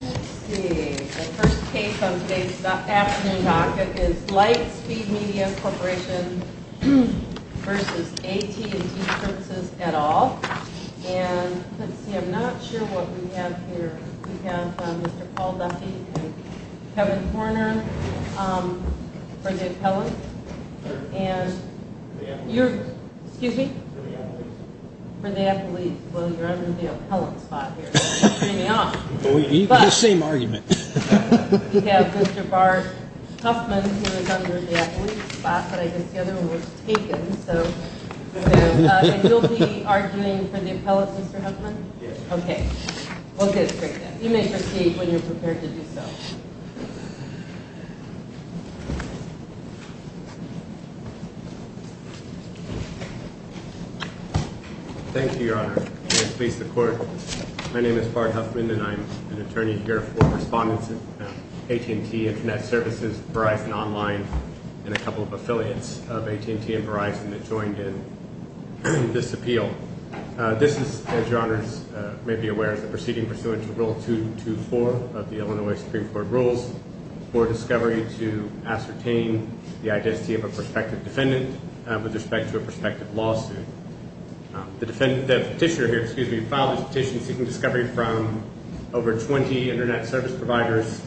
Let's see. The first case on today's afternoon talk is Lightspeed Media Corporation v. AT&T Services et al. And, let's see, I'm not sure what we have here. We have Mr. Paul Duffy and Kevin Horner for the appellant. And you're, excuse me? For the appellate. For the appellate. Well, you're under the appellant spot here. The same argument. We have Mr. Bart Huffman who is under the appellate spot, but I guess the other one was taken, so. And you'll be arguing for the appellate, Mr. Huffman? Yes. Okay. Well, good. Great. You may proceed when you're prepared to do so. Thank you, Your Honor. May it please the Court, my name is Bart Huffman and I'm an attorney here for respondents at AT&T Internet Services, Verizon Online, and a couple of affiliates of AT&T and Verizon that joined in this appeal. This is, as Your Honors may be aware, is a proceeding pursuant to Rule 224 of the Illinois Supreme Court rules for discovery to ascertain the identity of a prospective defendant with respect to a prospective lawsuit. The petitioner here, excuse me, filed this petition seeking discovery from over 20 Internet Service providers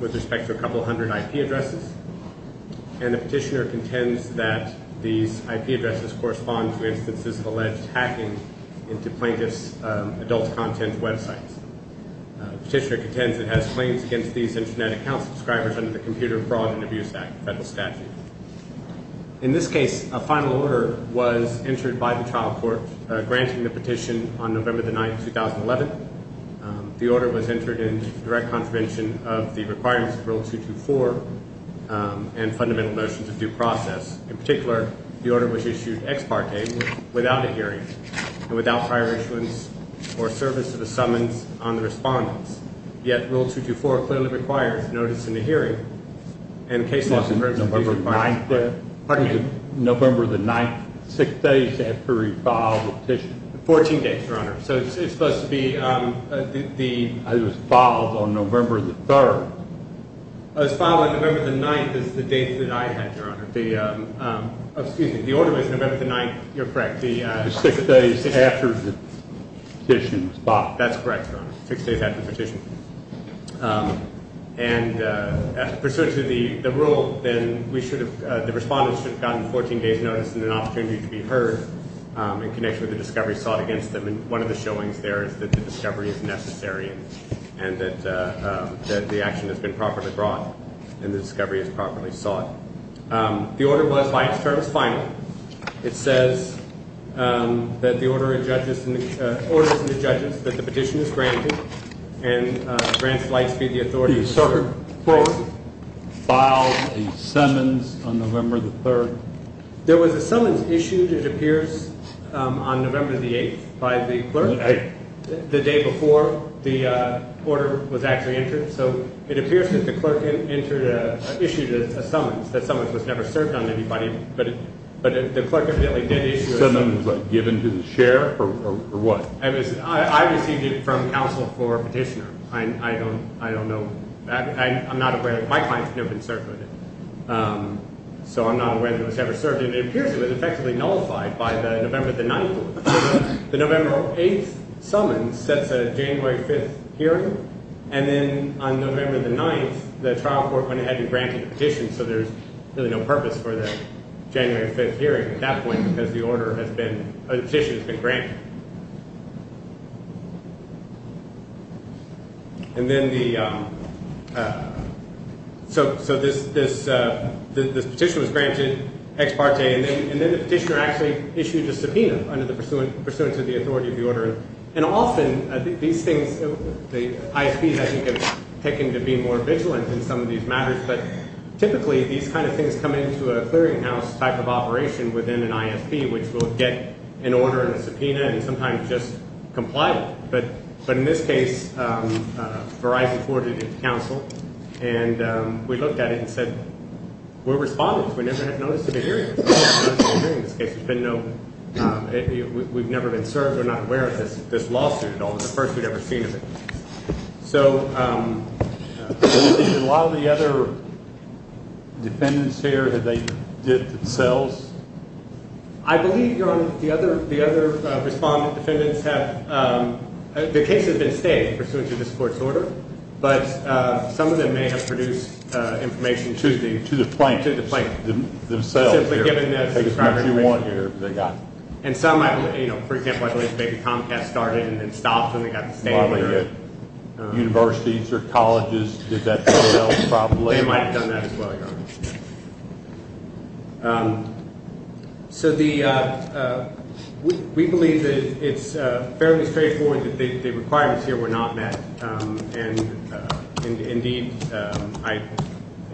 with respect to a couple hundred IP addresses. And the petitioner contends that these IP addresses correspond to instances of alleged hacking into plaintiff's adult content websites. The petitioner contends it has claims against these Internet account subscribers under the Computer Fraud and Abuse Act, federal statute. In this case, a final order was entered by the trial court granting the petition on November the 9th, 2011. The order was entered in direct contravention of the requirements of Rule 224 and fundamental notions of due process. In particular, the order was issued ex parte without a hearing and without prior issuance or service to the summons on the respondents. Yet, Rule 224 clearly requires notice in the hearing and the case laws... November the 9th. Pardon me. November the 9th, six days after he filed the petition. Fourteen days, Your Honor. So it's supposed to be the... It was filed on November the 3rd. It was filed on November the 9th is the date that I had, Your Honor. The, excuse me, the order was November the 9th. You're correct. Six days after the petition was filed. That's correct, Your Honor. Six days after the petition. And pursuant to the rule, then we should have, the respondents should have gotten 14 days notice and an opportunity to be heard in connection with the discovery sought against them. And one of the showings there is that the discovery is necessary and that the action has been properly brought and the discovery is properly sought. The order was by its terms final. It says that the order of judges, orders of the judges that the petition is granted and grants lights be the authority of the court. The circuit court filed a summons on November the 3rd. There was a summons issued, it appears, on November the 8th by the clerk. The day before the order was actually entered. So it appears that the clerk entered, issued a summons. That summons was never served on anybody, but the clerk evidently did issue a summons. The summons was given to the sheriff or what? I received it from counsel for petitioner. I don't know. I'm not aware. My client's never been served with it. So I'm not aware that it was ever served. It appears it was effectively nullified by the November the 9th. The November 8th summons sets a January 5th hearing. And then on November the 9th, the trial court went ahead and granted the petition. So there's really no purpose for the January 5th hearing at that point because the order has been, a petition has been granted. Okay. And then the, so this petition was granted ex parte, and then the petitioner actually issued a subpoena under the pursuance of the authority of the order. And often these things, the ISPs, I think, have taken to being more vigilant in some of these matters. But typically these kind of things come into a clearinghouse type of operation within an ISP, which will get an order and a subpoena and sometimes just comply. But in this case, Verizon forwarded it to counsel, and we looked at it and said, we're respondents. We never had notice of a hearing. There's been no, we've never been served. We're not aware of this lawsuit at all. It's the first we've ever seen of it. So a lot of the other defendants here, have they did themselves? I believe, Your Honor, the other respondent defendants have, the case has been stayed pursuant to this court's order. But some of them may have produced information to the plaintiffs themselves. And some, for example, I believe maybe Comcast started and then stopped when they got the statement. Universities or colleges did that as well, probably. They might have done that as well, Your Honor. So we believe that it's fairly straightforward that the requirements here were not met. And indeed, I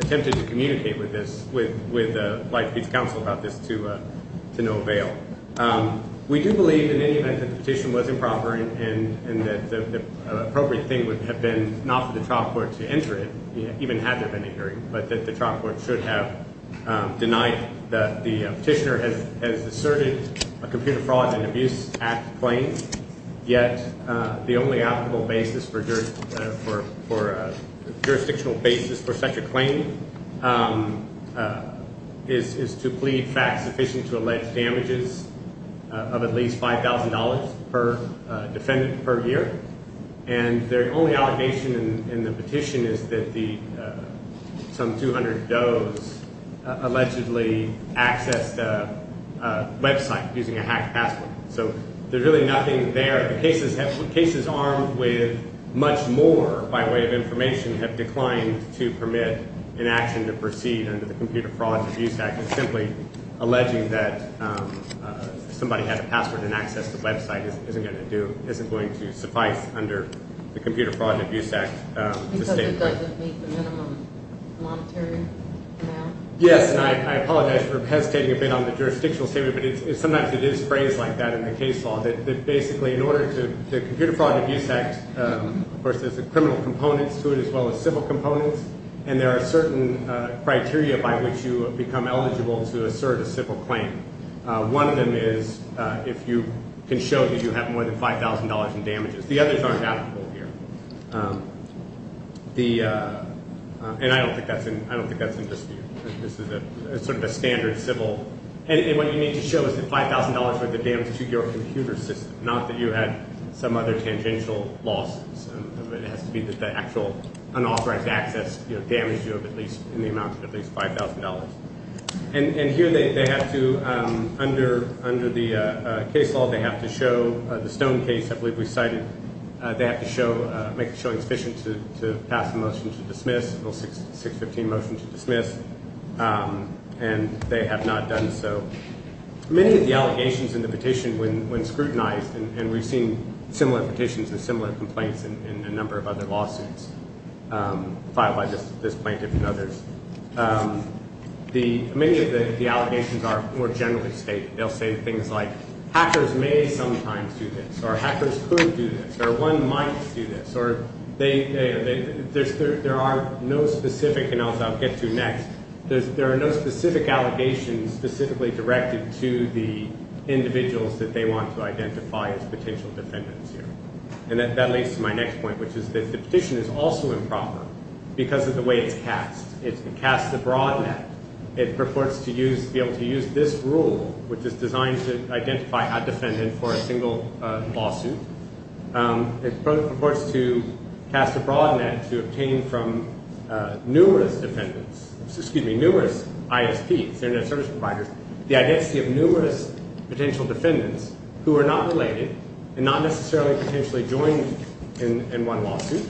attempted to communicate with this, with Light Feet's counsel about this to no avail. We do believe in any event that the petition was improper and that the appropriate thing would have been not for the trial court to enter it, even had there been a hearing, but that the trial court should have denied that the petitioner has asserted a Computer Fraud and Abuse Act claim. Yet, the only applicable basis for jurisdictional basis for such a claim is to plead fact sufficient to allege damages of at least $5,000 per defendant per year. And their only allegation in the petition is that some 200 does allegedly accessed a website using a hacked password. So there's really nothing there. The cases armed with much more, by way of information, have declined to permit an action to proceed under the Computer Fraud and Abuse Act. And simply alleging that somebody had a password and accessed the website isn't going to suffice under the Computer Fraud and Abuse Act. Because it doesn't meet the minimum monetary amount? Yes, and I apologize for hesitating a bit on the jurisdictional statement, but sometimes it is phrased like that in the case law, that basically in order to – the Computer Fraud and Abuse Act, of course, there's the criminal components to it as well as civil components, and there are certain criteria by which you become eligible to assert a civil claim. One of them is if you can show that you have more than $5,000 in damages. The others aren't applicable here. And I don't think that's in dispute. This is sort of a standard civil – and what you need to show is that $5,000 worth of damage to your computer system, not that you had some other tangential losses. It has to be that the actual unauthorized access damaged you in the amount of at least $5,000. And here they have to, under the case law, they have to show – the Stone case, I believe we cited, they have to make it showing sufficient to pass a motion to dismiss, a 615 motion to dismiss, and they have not done so. Many of the allegations in the petition, when scrutinized, and we've seen similar petitions and similar complaints in a number of other lawsuits filed by this plaintiff and others, many of the allegations are more generally stated. They'll say things like, hackers may sometimes do this, or hackers could do this, or one might do this, or they – there are no specific – and I'll get to next. There are no specific allegations specifically directed to the individuals that they want to identify as potential defendants here. And that leads to my next point, which is that the petition is also improper because of the way it's cast. It's been cast abroad net. It purports to use – be able to use this rule, which is designed to identify a defendant for a single lawsuit. It purports to cast abroad net to obtain from numerous defendants – excuse me, numerous ISPs, Internet Service Providers, the identity of numerous potential defendants who are not related and not necessarily potentially joined in one lawsuit.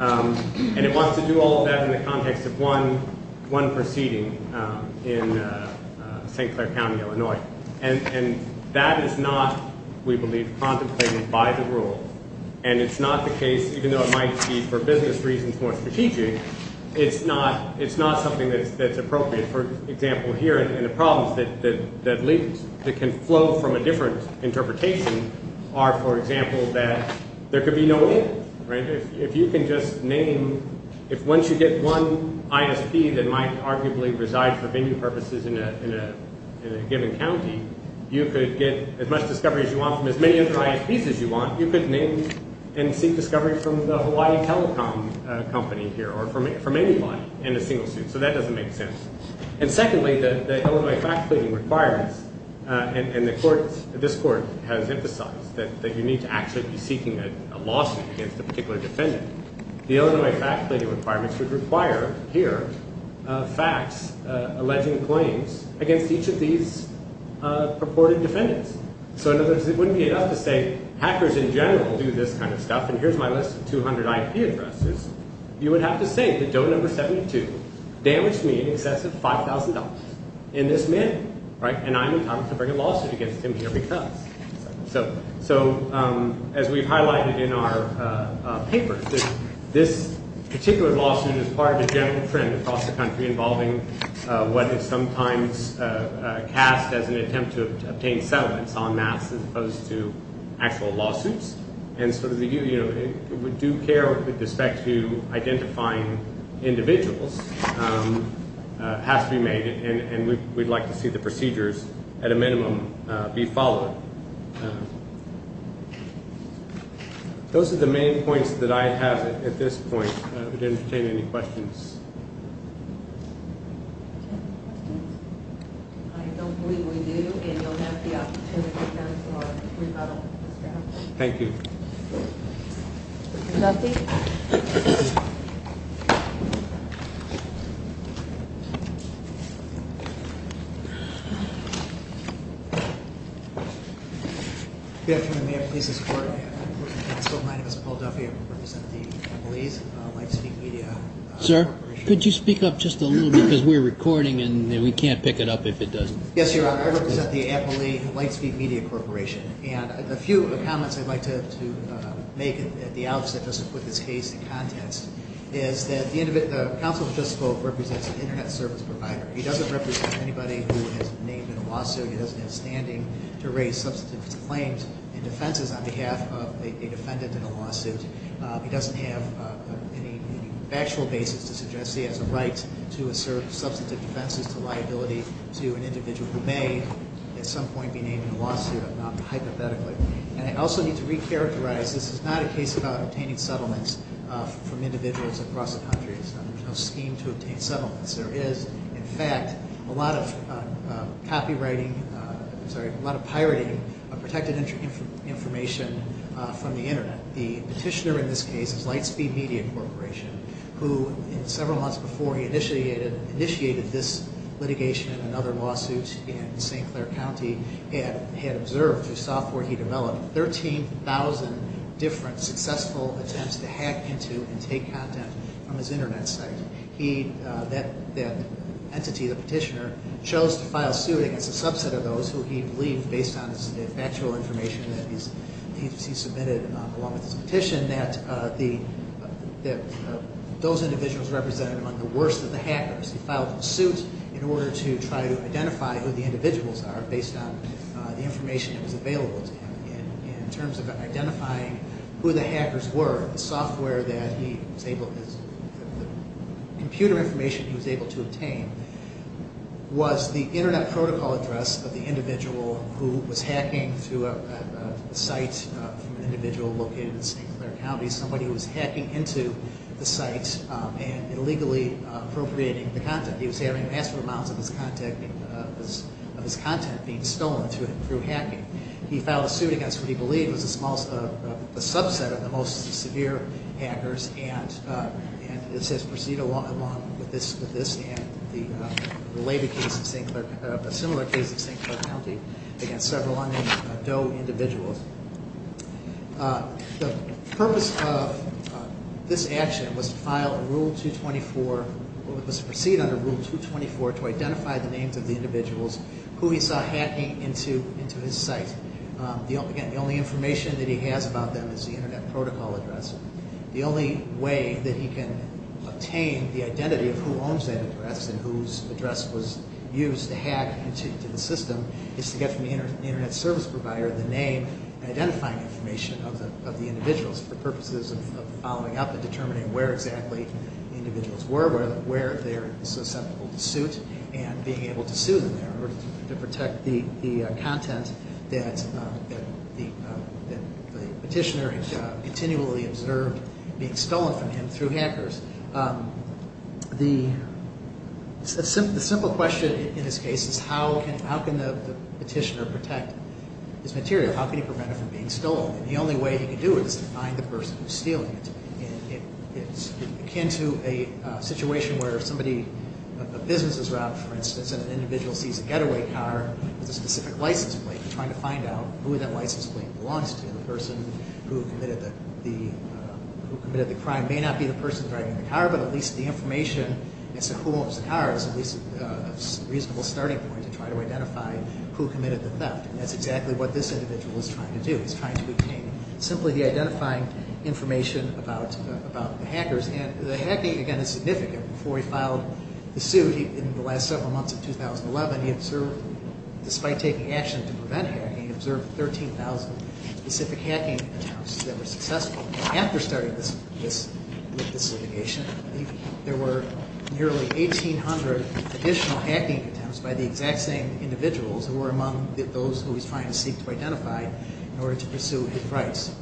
And it wants to do all of that in the context of one proceeding in St. Clair County, Illinois. And that is not, we believe, contemplated by the rule. And it's not the case, even though it might be for business reasons more strategic, it's not something that's appropriate. For example, here in the problems that lead – that can flow from a different interpretation are, for example, that there could be no in. If you can just name – if once you get one ISP that might arguably reside for venue purposes in a given county, you could get as much discovery as you want from as many other ISPs as you want, you could name and seek discovery from the Hawaii Telecom Company here or from anybody in a single suit. So that doesn't make sense. And secondly, the Illinois fact-clearing requirements, and the court – this court has emphasized that you need to actually be seeking a lawsuit against a particular defendant. The Illinois fact-clearing requirements would require here facts alleging claims against each of these purported defendants. So in other words, it wouldn't be enough to say hackers in general do this kind of stuff, and here's my list of 200 IP addresses. You would have to say that dough number 72 damaged me in excess of $5,000 in this manner, right? And I'm in Congress to bring a lawsuit against him here because. So as we've highlighted in our paper, this particular lawsuit is part of a general trend across the country involving what is sometimes cast as an attempt to obtain settlements en masse as opposed to actual lawsuits. And sort of the – we do care with respect to identifying individuals. It has to be made, and we'd like to see the procedures at a minimum be followed. Those are the main points that I have at this point. Would you entertain any questions? I don't believe we do, and you'll have the opportunity to come to our rebuttal this afternoon. Thank you. Nothing? Thank you. Good afternoon, may I please have support? My name is Paul Duffy. I represent the Applebee's Lightspeak Media Corporation. Sir, could you speak up just a little bit because we're recording and we can't pick it up if it doesn't. Yes, Your Honor. I represent the Applebee's Lightspeak Media Corporation, and a few comments I'd like to make at the outset just to put this case in context is that the counsel who just spoke represents an Internet service provider. He doesn't represent anybody who has been named in a lawsuit. He doesn't have standing to raise substantive claims and defenses on behalf of a defendant in a lawsuit. He doesn't have any factual basis to suggest he has a right to assert substantive defenses to liability to an individual who may at some point be named in a lawsuit, not hypothetically. And I also need to recharacterize this is not a case about obtaining settlements from individuals across the country. There's no scheme to obtain settlements. There is, in fact, a lot of copywriting, I'm sorry, a lot of pirating of protected information from the Internet. The petitioner in this case is Lightspeak Media Corporation, who several months before he initiated this litigation and other lawsuits in St. Clair County had observed through software he developed 13,000 different successful attempts to hack into and take content from his Internet site. He, that entity, the petitioner, chose to file suit against a subset of those who he believed, based on the factual information that he submitted along with his petition, that those individuals represented among the worst of the hackers. He filed a suit in order to try to identify who the individuals are based on the information that was available to him. And in terms of identifying who the hackers were, the software that he was able, the computer information he was able to obtain was the Internet protocol address of the individual who was hacking through a site from an individual located in St. Clair County, somebody who was hacking into the site and illegally appropriating the content. He was having massive amounts of his content being stolen through hacking. He filed a suit against what he believed was a subset of the most severe hackers and this has proceeded along with this and a similar case in St. Clair County against several unknown Doe individuals. The purpose of this action was to file a Rule 224, was to proceed under Rule 224 to identify the names of the individuals who he saw hacking into his site. Again, the only information that he has about them is the Internet protocol address. The only way that he can obtain the identity of who owns that address and whose address was used to hack into the system is to get from the Internet service provider the name and identifying information of the individuals for purposes of following up and determining where exactly the individuals were, where they are susceptible to suit and being able to sue them in order to protect the content that the petitioner had continually observed being stolen from him through hackers. The simple question in this case is how can the petitioner protect his material? How can he prevent it from being stolen? And the only way he can do it is to find the person who's stealing it. It's akin to a situation where somebody, a business is robbed, for instance, and an individual sees a getaway car with a specific license plate and trying to find out who that license plate belongs to. The person who committed the crime may not be the person driving the car, but at least the information as to who owns the car is at least a reasonable starting point to try to identify who committed the theft. And that's exactly what this individual is trying to do. He's trying to obtain simply the identifying information about the hackers. And the hacking, again, is significant. Before he filed the suit in the last several months of 2011, he observed, despite taking action to prevent hacking, he observed 13,000 specific hacking attempts that were successful. After starting this litigation, there were nearly 1,800 additional hacking attempts by the exact same individuals who were among those who he's trying to seek to identify in order to pursue his rights.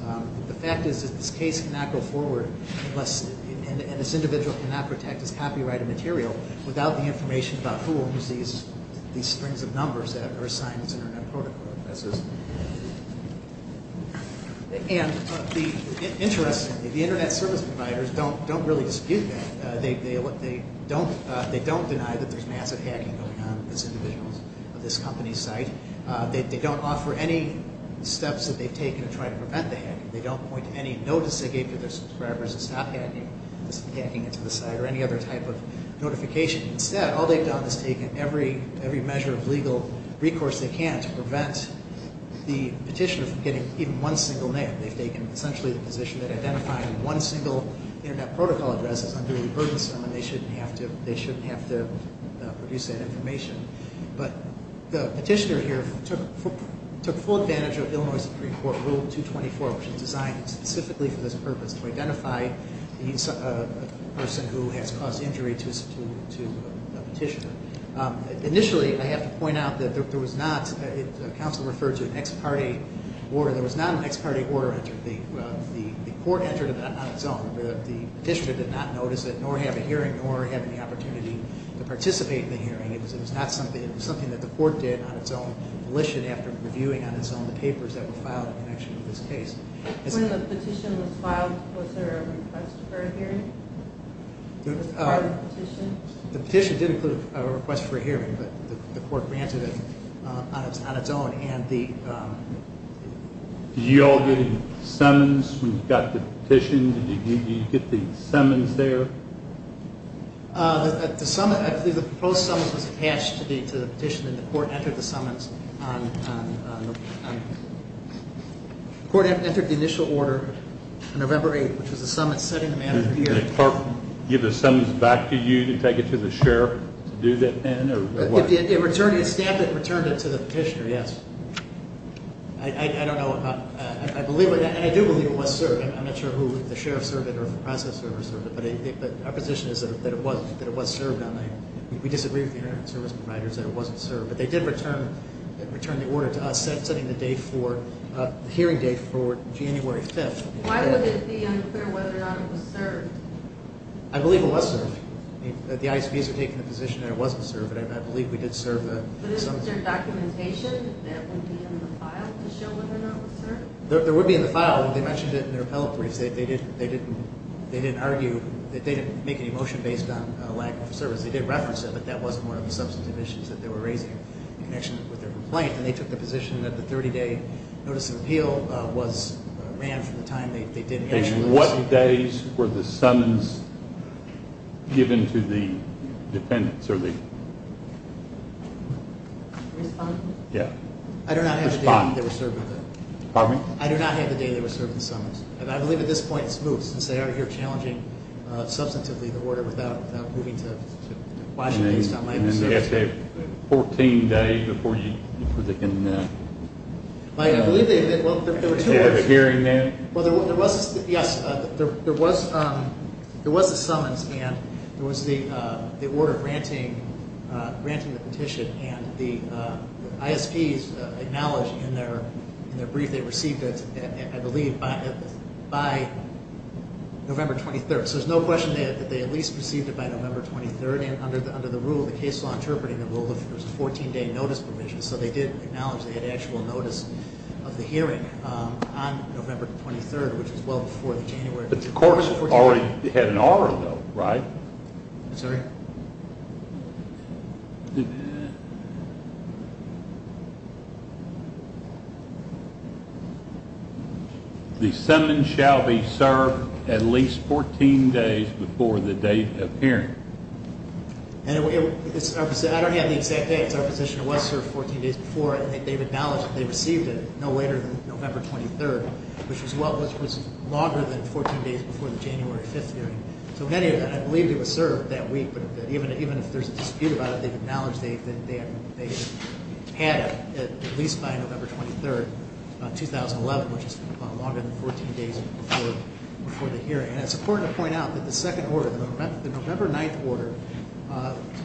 The fact is that this case cannot go forward unless, and this individual cannot protect his copyrighted material without the information about who owns these strings of numbers that are assigned to his Internet protocol addresses. And interestingly, the Internet service providers don't really dispute that. They don't deny that there's massive hacking going on with these individuals of this company's site. They don't offer any steps that they've taken to try to prevent the hacking. They don't point to any notice they gave to their subscribers to stop hacking into the site or any other type of notification. Instead, all they've done is taken every measure of legal recourse they can to prevent the petitioner from getting even one single name. They've taken essentially the position that identifying one single Internet protocol address is unduly burdensome and they shouldn't have to produce that information. But the petitioner here took full advantage of Illinois Supreme Court Rule 224, which was designed specifically for this purpose, to identify a person who has caused injury to a petitioner. Initially, I have to point out that there was not, the counsel referred to an ex parte order, there was not an ex parte order. The court entered it on its own. The petitioner did not notice it, nor have a hearing, nor have any opportunity to participate in the hearing. It was something that the court did on its own volition after reviewing on its own the papers that were filed in connection with this case. When the petition was filed, was there a request for a hearing? The petition did include a request for a hearing, but the court granted it on its own. Did you all get any summons when you got the petition? Did you get the summons there? The summons, I believe the proposed summons was attached to the petition and the court entered the summons on, the court entered the initial order on November 8th, which was the summons set in the manner of the hearing. Did the clerk give the summons back to you to take it to the sheriff to do that then? Staff had returned it to the petitioner, yes. I don't know, I believe, and I do believe it was served. I'm not sure who the sheriff served it or the process server served it, but our position is that it was served. We disagree with the internet service providers that it wasn't served, but they did return the order to us setting the hearing date for January 5th. Why would it be unclear whether or not it was served? I believe it was served. The ICPs are taking the position that it wasn't served, but I believe we did serve the summons. But is there documentation that would be in the file to show whether or not it was served? There would be in the file. They mentioned it in their appellate briefs. They didn't argue, they didn't make any motion based on lack of service. They did reference it, but that wasn't one of the substantive issues that they were raising in connection with their complaint, and they took the position that the 30-day notice of appeal was ran from the time they did issue those. What days were the summons given to the defendants? I do not have the date they were serving the summons. I believe at this point it's moved since they are here challenging substantively the order without moving to Washington State. They have to have a 14-day before they can have a hearing then? Yes, there was a summons, and there was the order granting the petition, and the ISPs acknowledged in their brief they received it, I believe, by November 23rd. So there's no question that they at least received it by November 23rd, and under the rule of the case law interpreting it was a 14-day notice provision. So they did acknowledge they had actual notice of the hearing on November 23rd, which is well before the January 14th. The court already had an order, though, right? I'm sorry? The summons shall be served at least 14 days before the date of hearing. I don't have the exact dates. Our petition was served 14 days before, and they've acknowledged they received it no later than November 23rd, which was longer than 14 days before the January 5th hearing. So anyway, I believe it was served that week, but even if there's a dispute about it, they've acknowledged they had it at least by November 23rd, 2011, which is longer than 14 days before the hearing. And it's important to point out that the second order, the November 9th order,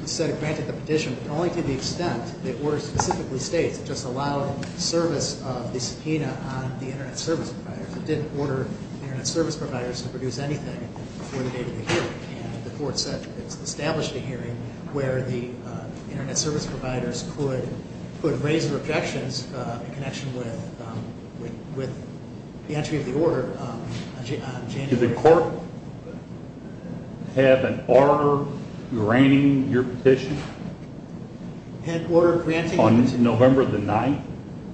said it granted the petition only to the extent the order specifically states it just allowed service of the subpoena on the Internet Service Providers. It didn't order the Internet Service Providers to produce anything before the date of the hearing. And the court said it established a hearing where the Internet Service Providers could raise their objections in connection with the entry of the order on January 5th. Did the court have an order granting your petition? Had an order granting it? On November 9th?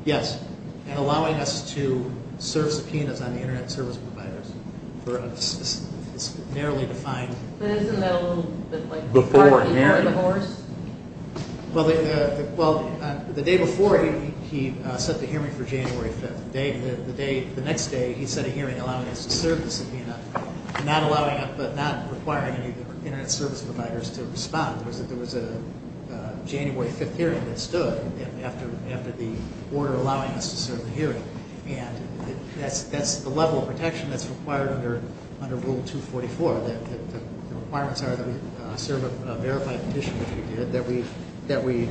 Yes, and allowing us to serve subpoenas on the Internet Service Providers. It's narrowly defined. But isn't that a little bit like a party for the horse? Well, the day before he set the hearing for January 5th, the next day he set a hearing allowing us to serve the subpoena, not requiring any of the Internet Service Providers to respond. There was a January 5th hearing that stood after the order allowing us to serve the hearing. And that's the level of protection that's required under Rule 244. The requirements are that we serve a verified petition, which we did, that we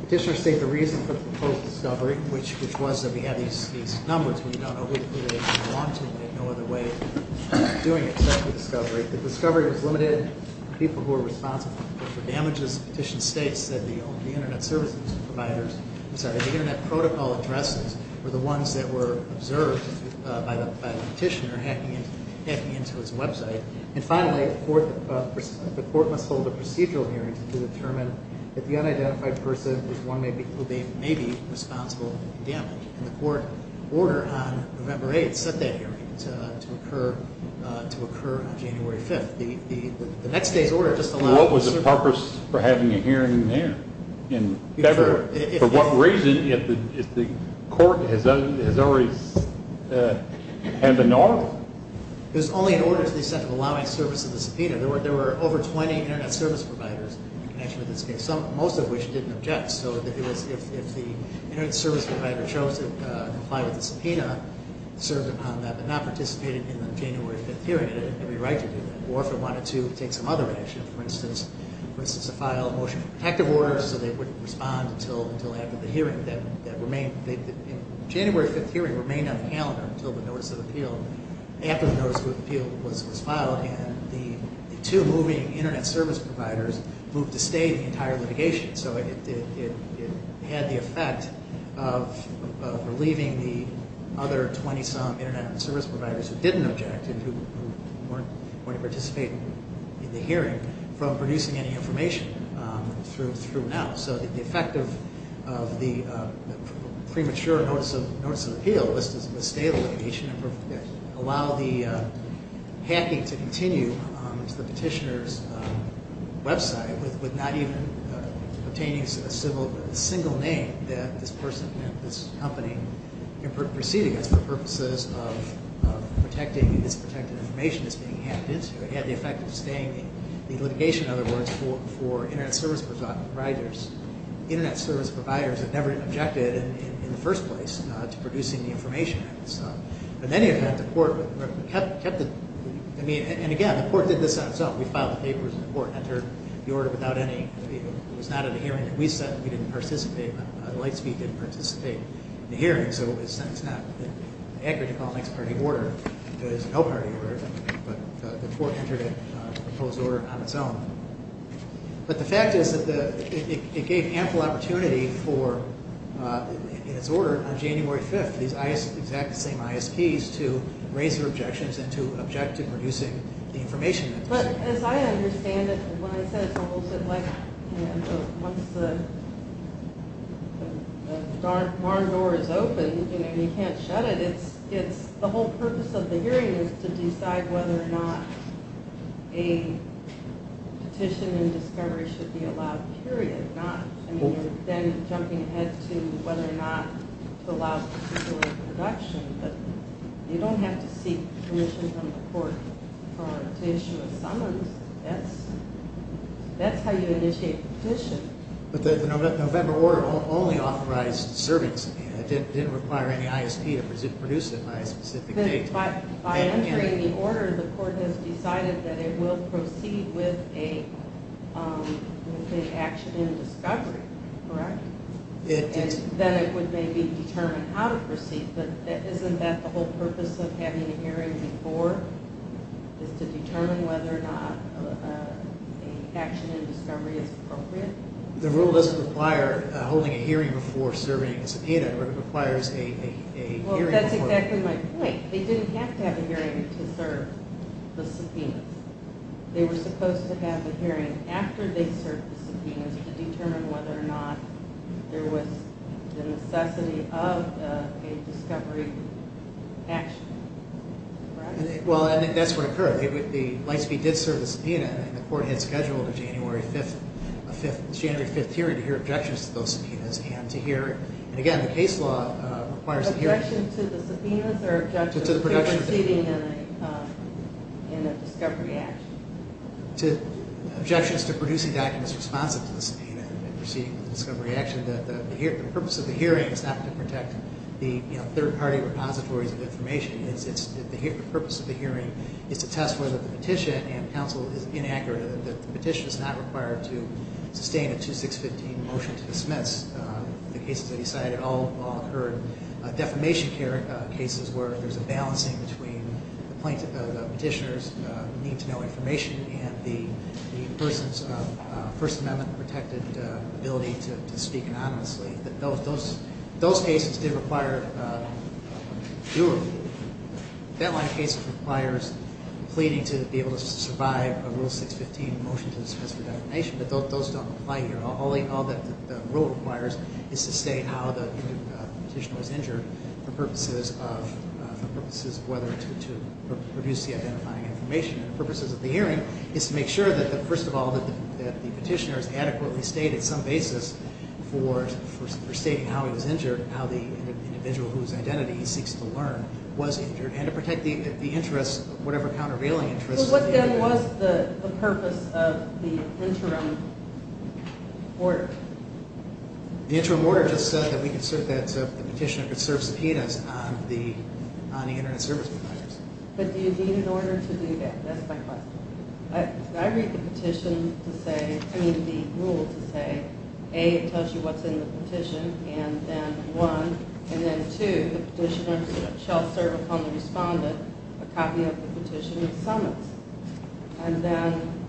petitioner state the reason for the proposed discovery, which was that we had these numbers. We don't know who they belong to. We had no other way of doing it except for discovery. The discovery was limited to people who were responsible for damages. The petition states that the Internet Service Providers, I'm sorry, the Internet Protocol addresses were the ones that were observed by the petitioner hacking into his website. And finally, the court must hold a procedural hearing to determine if the unidentified person who may be responsible for the damage. And the court order on November 8th set that hearing to occur on January 5th. The next day's order just allowed us to serve the hearing. What was the purpose for having a hearing there in February? For what reason if the court has always had the norm? It was only an order to the extent of allowing service of the subpoena. There were over 20 Internet Service Providers in connection with this case, most of which didn't object. So if the Internet Service Provider chose to comply with the subpoena, served upon that but not participated in the January 5th hearing, it didn't have any right to do that. Or if it wanted to take some other action, for instance, file a motion for protective orders so they wouldn't respond until after the hearing. The January 5th hearing remained on the calendar until the notice of appeal. After the notice of appeal was filed and the two moving Internet Service Providers moved to stay the entire litigation. So it had the effect of relieving the other 20-some Internet Service Providers who didn't object and who weren't going to participate in the hearing from producing any information through now. So the effect of the premature notice of appeal was to stay the litigation and allow the hacking to continue to the petitioner's website with not even obtaining a single name that this person, this company, can proceed against for purposes of protecting this protected information that's being hacked into. It had the effect of staying the litigation, in other words, for Internet Service Providers. Internet Service Providers had never objected in the first place to producing the information. In any event, the court kept the... I mean, and again, the court did this on its own. We filed the papers and the court entered the order without any... It was not at a hearing that we said we didn't participate. Lightspeed didn't participate in the hearing, so it's not accurate to call a next-party order as a no-party order, but the court entered a proposed order on its own. But the fact is that it gave ample opportunity for, in its order, on January 5th, these exact same ISPs to raise their objections and to object to producing the information. But as I understand it, when I said it's almost like, you know, once the barn door is open and you can't shut it, whether or not a petition and discovery should be allowed, period. I mean, you're then jumping ahead to whether or not to allow particular production, but you don't have to seek permission from the court to issue a summons. That's how you initiate a petition. But the November order only authorized servings. It didn't require any ISP to produce it by a specific date. By entering the order, the court has decided that it will proceed with an action in discovery, correct? Then it would maybe determine how to proceed. But isn't that the whole purpose of having a hearing before, is to determine whether or not an action in discovery is appropriate? The rule doesn't require holding a hearing before serving as a petition, but it requires a hearing before. That's exactly my point. They didn't have to have a hearing to serve the subpoenas. They were supposed to have a hearing after they served the subpoenas to determine whether or not there was the necessity of a discovery action. Well, I think that's what occurred. Lightspeed did serve the subpoena, and the court had scheduled a January 5th hearing to hear objections to those subpoenas and to hear it. And, again, the case law requires a hearing. Objections to the subpoenas or objections to proceeding in a discovery action? Objections to producing documents responsive to the subpoena and proceeding with the discovery action. The purpose of the hearing is not to protect the third-party repositories of information. The purpose of the hearing is to test whether the petition and counsel is inaccurate or that the petition is not required to sustain a 2615 motion to dismiss the cases they decided all occurred. Defamation cases where there's a balancing between the petitioner's need to know information and the person's First Amendment-protected ability to speak anonymously. Those cases did require due review. That line of cases requires pleading to be able to survive a rule 615 motion to dismiss for defamation, but those don't apply here. All that the rule requires is to state how the petitioner was injured for purposes of whether to produce the identifying information. The purposes of the hearing is to make sure that, first of all, that the petitioner has adequately stated some basis for stating how he was injured, how the individual whose identity he seeks to learn was injured, and to protect the interests, whatever countervailing interests. So what then was the purpose of the interim order? The interim order just said that we could cert that the petitioner could serve subpoenas on the internet service providers. But do you need an order to do that? That's my question. I read the petition to say, I mean the rule to say, A, it tells you what's in the petition, and then one, and then two, the petitioner shall serve upon the respondent a copy of the petition in summons. And then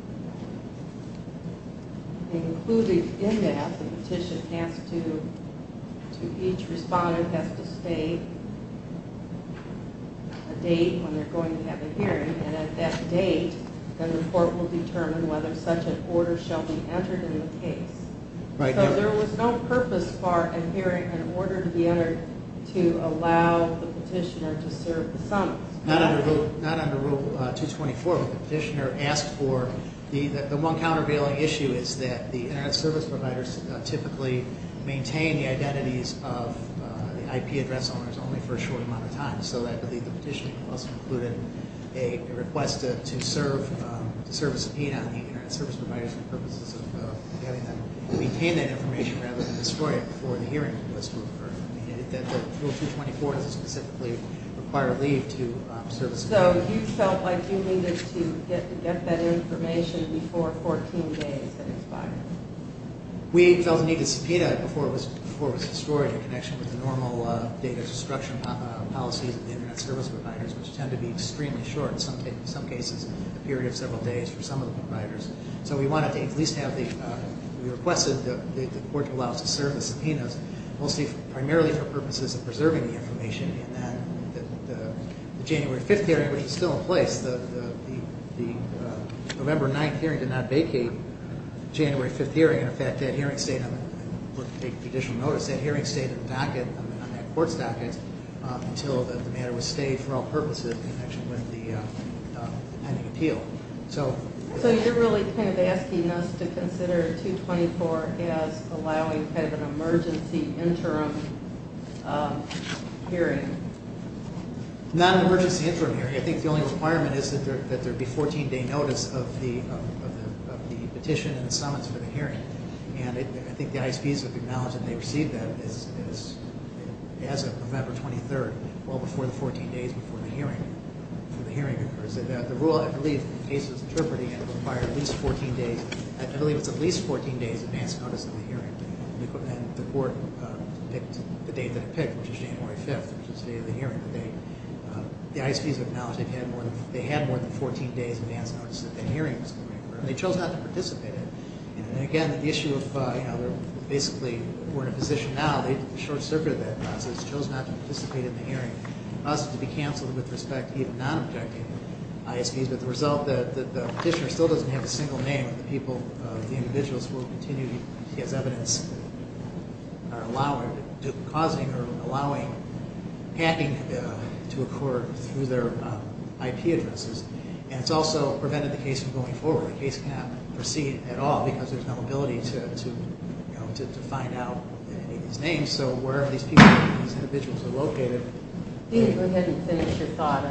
including in that the petition has to, each respondent has to state a date when they're going to have a hearing, and at that date the report will determine whether such an order shall be entered in the case. So there was no purpose for a hearing in order to be entered to allow the petitioner to serve the summons. Not under Rule 224, but the petitioner asked for, the one countervailing issue is that the internet service providers typically maintain the identities of the IP address owners only for a short amount of time. So I believe the petitioner must have included a request to serve a subpoena on the internet service providers for the purposes of having them maintain that information rather than destroy it before the hearing was to occur. Rule 224 doesn't specifically require leave to serve a subpoena. So you felt like you needed to get that information before 14 days had expired. We felt the need to subpoena it before it was destroyed in connection with the normal data destruction policies of the internet service providers, which tend to be extremely short, in some cases a period of several days for some of the providers. So we wanted to at least have the, we requested the court to allow us to serve the subpoenas mostly, primarily for purposes of preserving the information. And then the January 5th hearing, which is still in place, the November 9th hearing did not vacate the January 5th hearing. In fact, that hearing stayed on, for additional notice, that hearing stayed on the docket, on that court's docket, until the matter was stayed for all purposes in connection with the pending appeal. So you're really kind of asking us to consider 224 as allowing kind of an emergency interim hearing. Not an emergency interim hearing. I think the only requirement is that there be 14-day notice of the petition and summons for the hearing. And I think the ISPs have acknowledged that they received that as of November 23rd, well before the 14 days before the hearing occurs. The rule, I believe, in cases interpreting it, require at least 14 days, I believe it's at least 14 days advance notice of the hearing. And the court picked the date that it picked, which is January 5th, which is the date of the hearing. The ISPs have acknowledged they had more than 14 days advance notice that the hearing was going to occur. And they chose not to participate in it. And again, the issue of, you know, basically we're in a position now, the short circuit of that process, chose not to participate in the hearing. And for us to be canceled with respect to even non-objecting ISPs, but the result that the petitioner still doesn't have a single name of the people, the individuals who will continue to use evidence are allowing, causing, or allowing hacking to occur through their IP addresses. And it's also prevented the case from going forward. The case cannot proceed at all because there's no ability to find out his name. So wherever these people, these individuals are located. Go ahead and finish your thought.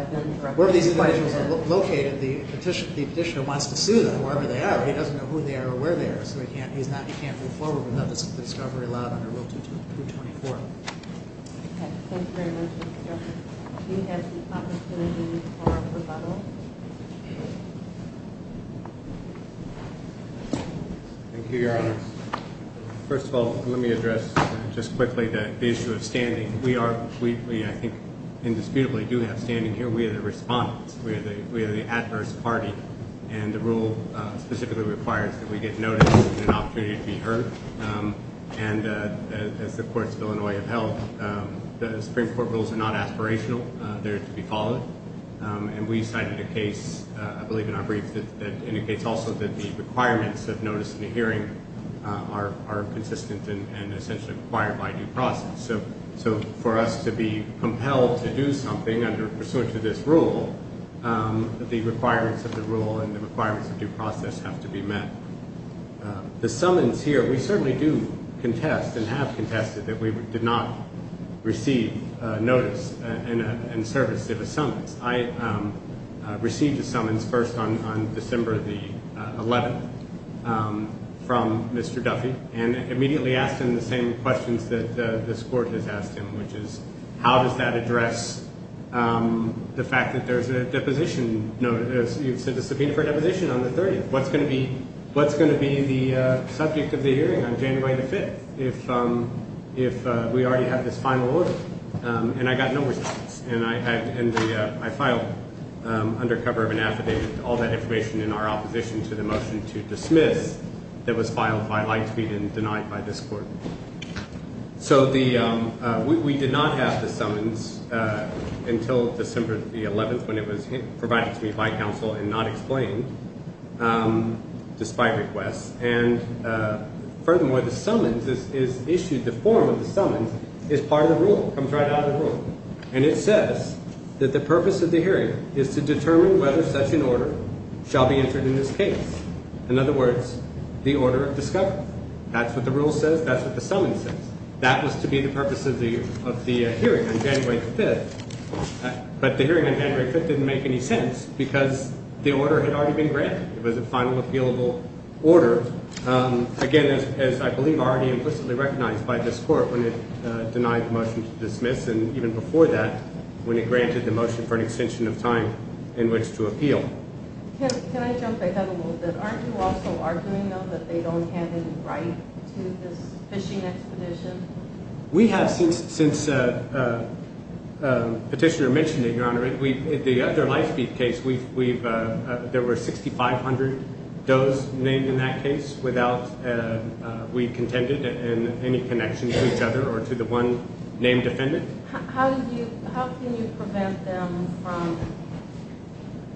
Wherever these individuals are located, the petitioner wants to sue them wherever they are. He doesn't know who they are or where they are. So he can't move forward without the discovery allowed under Rule 224. Okay. Thanks very much, Mr. Jefferson. Steve has the opportunity for rebuttal. Thank you, Your Honor. First of all, let me address just quickly the issue of standing. We, I think, indisputably do have standing here. We are the respondents. We are the adverse party. And the rule specifically requires that we get notice and an opportunity to be heard. And as the courts of Illinois have held, the Supreme Court rules are not aspirational. They're to be followed. And we cited a case, I believe in our brief, that indicates also that the requirements of notice and hearing are consistent and essentially required by due process. So for us to be compelled to do something under pursuance of this rule, the requirements of the rule and the requirements of due process have to be met. The summons here, we certainly do contest and have contested that we did not receive notice and service of a summons. I received a summons first on December the 11th from Mr. Duffy and immediately asked him the same questions that this court has asked him, which is how does that address the fact that there's a deposition notice. You said a subpoena for deposition on the 30th. What's going to be the subject of the hearing on January the 5th if we already have this final order? And I got no response. And I filed under cover of an affidavit all that information in our opposition to the motion to dismiss that was filed by Lightspeed and denied by this court. So we did not have the summons until December the 11th when it was provided to me by counsel and not explained despite requests. And furthermore, the summons is issued. The form of the summons is part of the rule, comes right out of the rule. And it says that the purpose of the hearing is to determine whether such an order shall be entered in this case. In other words, the order of discovery. That's what the rule says. That's what the summons says. That was to be the purpose of the hearing on January the 5th. But the hearing on January the 5th didn't make any sense because the order had already been granted. It was a final appealable order, again, as I believe already implicitly recognized by this court when it denied the motion to dismiss and even before that when it granted the motion for an extension of time in which to appeal. Can I jump ahead a little bit? Aren't you also arguing, though, that they don't have any right to this fishing expedition? We have since Petitioner mentioned it, Your Honor. In the other Lightspeed case, there were 6,500 does named in that case. We contended in any connection to each other or to the one named defendant. How can you prevent them from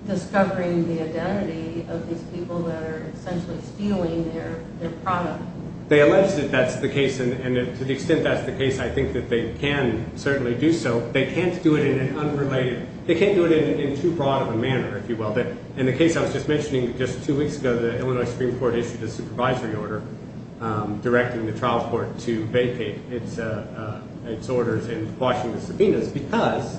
discovering the identity of these people that are essentially stealing their product? They allege that that's the case, and to the extent that's the case, I think that they can certainly do so. They can't do it in an unrelated, they can't do it in too broad of a manner, if you will. In the case I was just mentioning just two weeks ago, the Illinois Supreme Court issued a supervisory order directing the trial court to vacate its orders and washing the subpoenas because,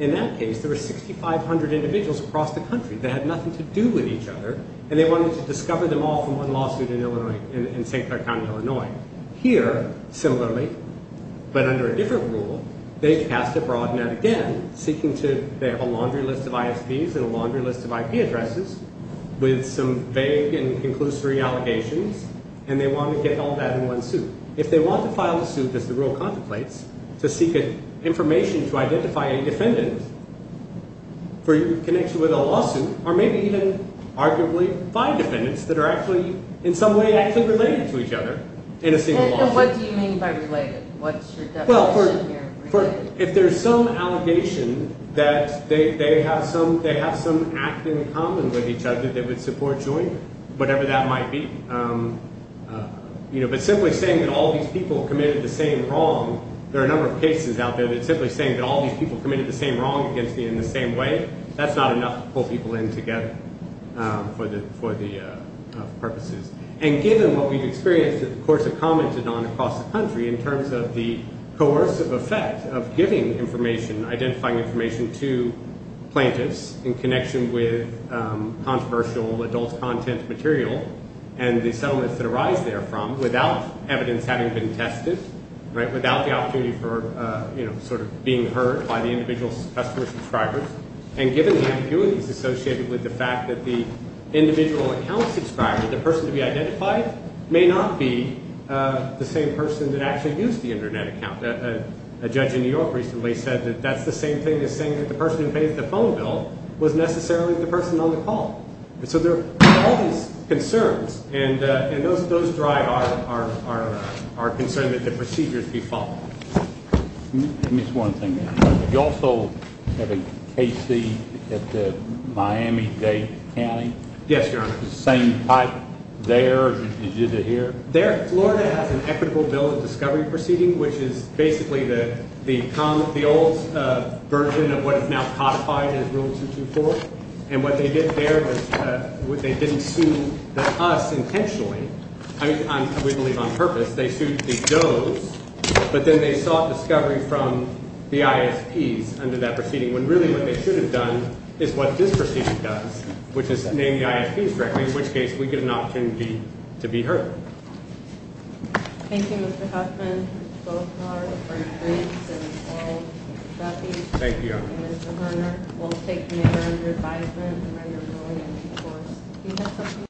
in that case, there were 6,500 individuals across the country that had nothing to do with each other, and they wanted to discover them all from one lawsuit in St. Clair County, Illinois. Here, similarly, but under a different rule, they passed a broad net again, seeking to, they have a laundry list of ISPs and a laundry list of IP addresses with some vague and conclusory allegations, and they want to get all that in one suit. If they want to file a suit, as the rule contemplates, to seek information to identify a defendant for connection with a lawsuit, or maybe even arguably find defendants that are actually in some way actually related to each other in a single lawsuit. And what do you mean by related? What's your definition here of related? If there's some allegation that they have some act in common with each other, they would support joining, whatever that might be. But simply saying that all these people committed the same wrong, there are a number of cases out there, but simply saying that all these people committed the same wrong against me in the same way, that's not enough to pull people in together for the purposes. And given what we've experienced, of course, and commented on across the country in terms of the coercive effect of giving information, identifying information to plaintiffs in connection with controversial adult content material and the settlements that arise therefrom without evidence having been tested, without the opportunity for sort of being heard by the individual customer subscribers, and given the ambiguities associated with the fact that the individual account subscriber, the person to be identified, may not be the same person that actually used the Internet account. A judge in New York recently said that that's the same thing as saying that the person who paid the phone bill was necessarily the person on the call. So there are all these concerns, and those drive our concern that the procedures be followed. Let me just one thing. You also have a KC at the Miami-Dade County? Yes, Your Honor. The same type there as you did here? There, Florida has an equitable bill of discovery proceeding, which is basically the old version of what is now codified as Rule 224. And what they did there was they didn't sue us intentionally. I mean, we believe on purpose. They sued the Doe's, but then they sought discovery from the ISPs under that proceeding, when really what they should have done is what this proceeding does, which is name the ISPs directly, in which case we get an opportunity to be heard. Thank you, Mr. Huffman, both of our attorneys and all trustees. Thank you, Your Honor. And Mr. Horner, we'll take matter under advisement and where you're going in due course.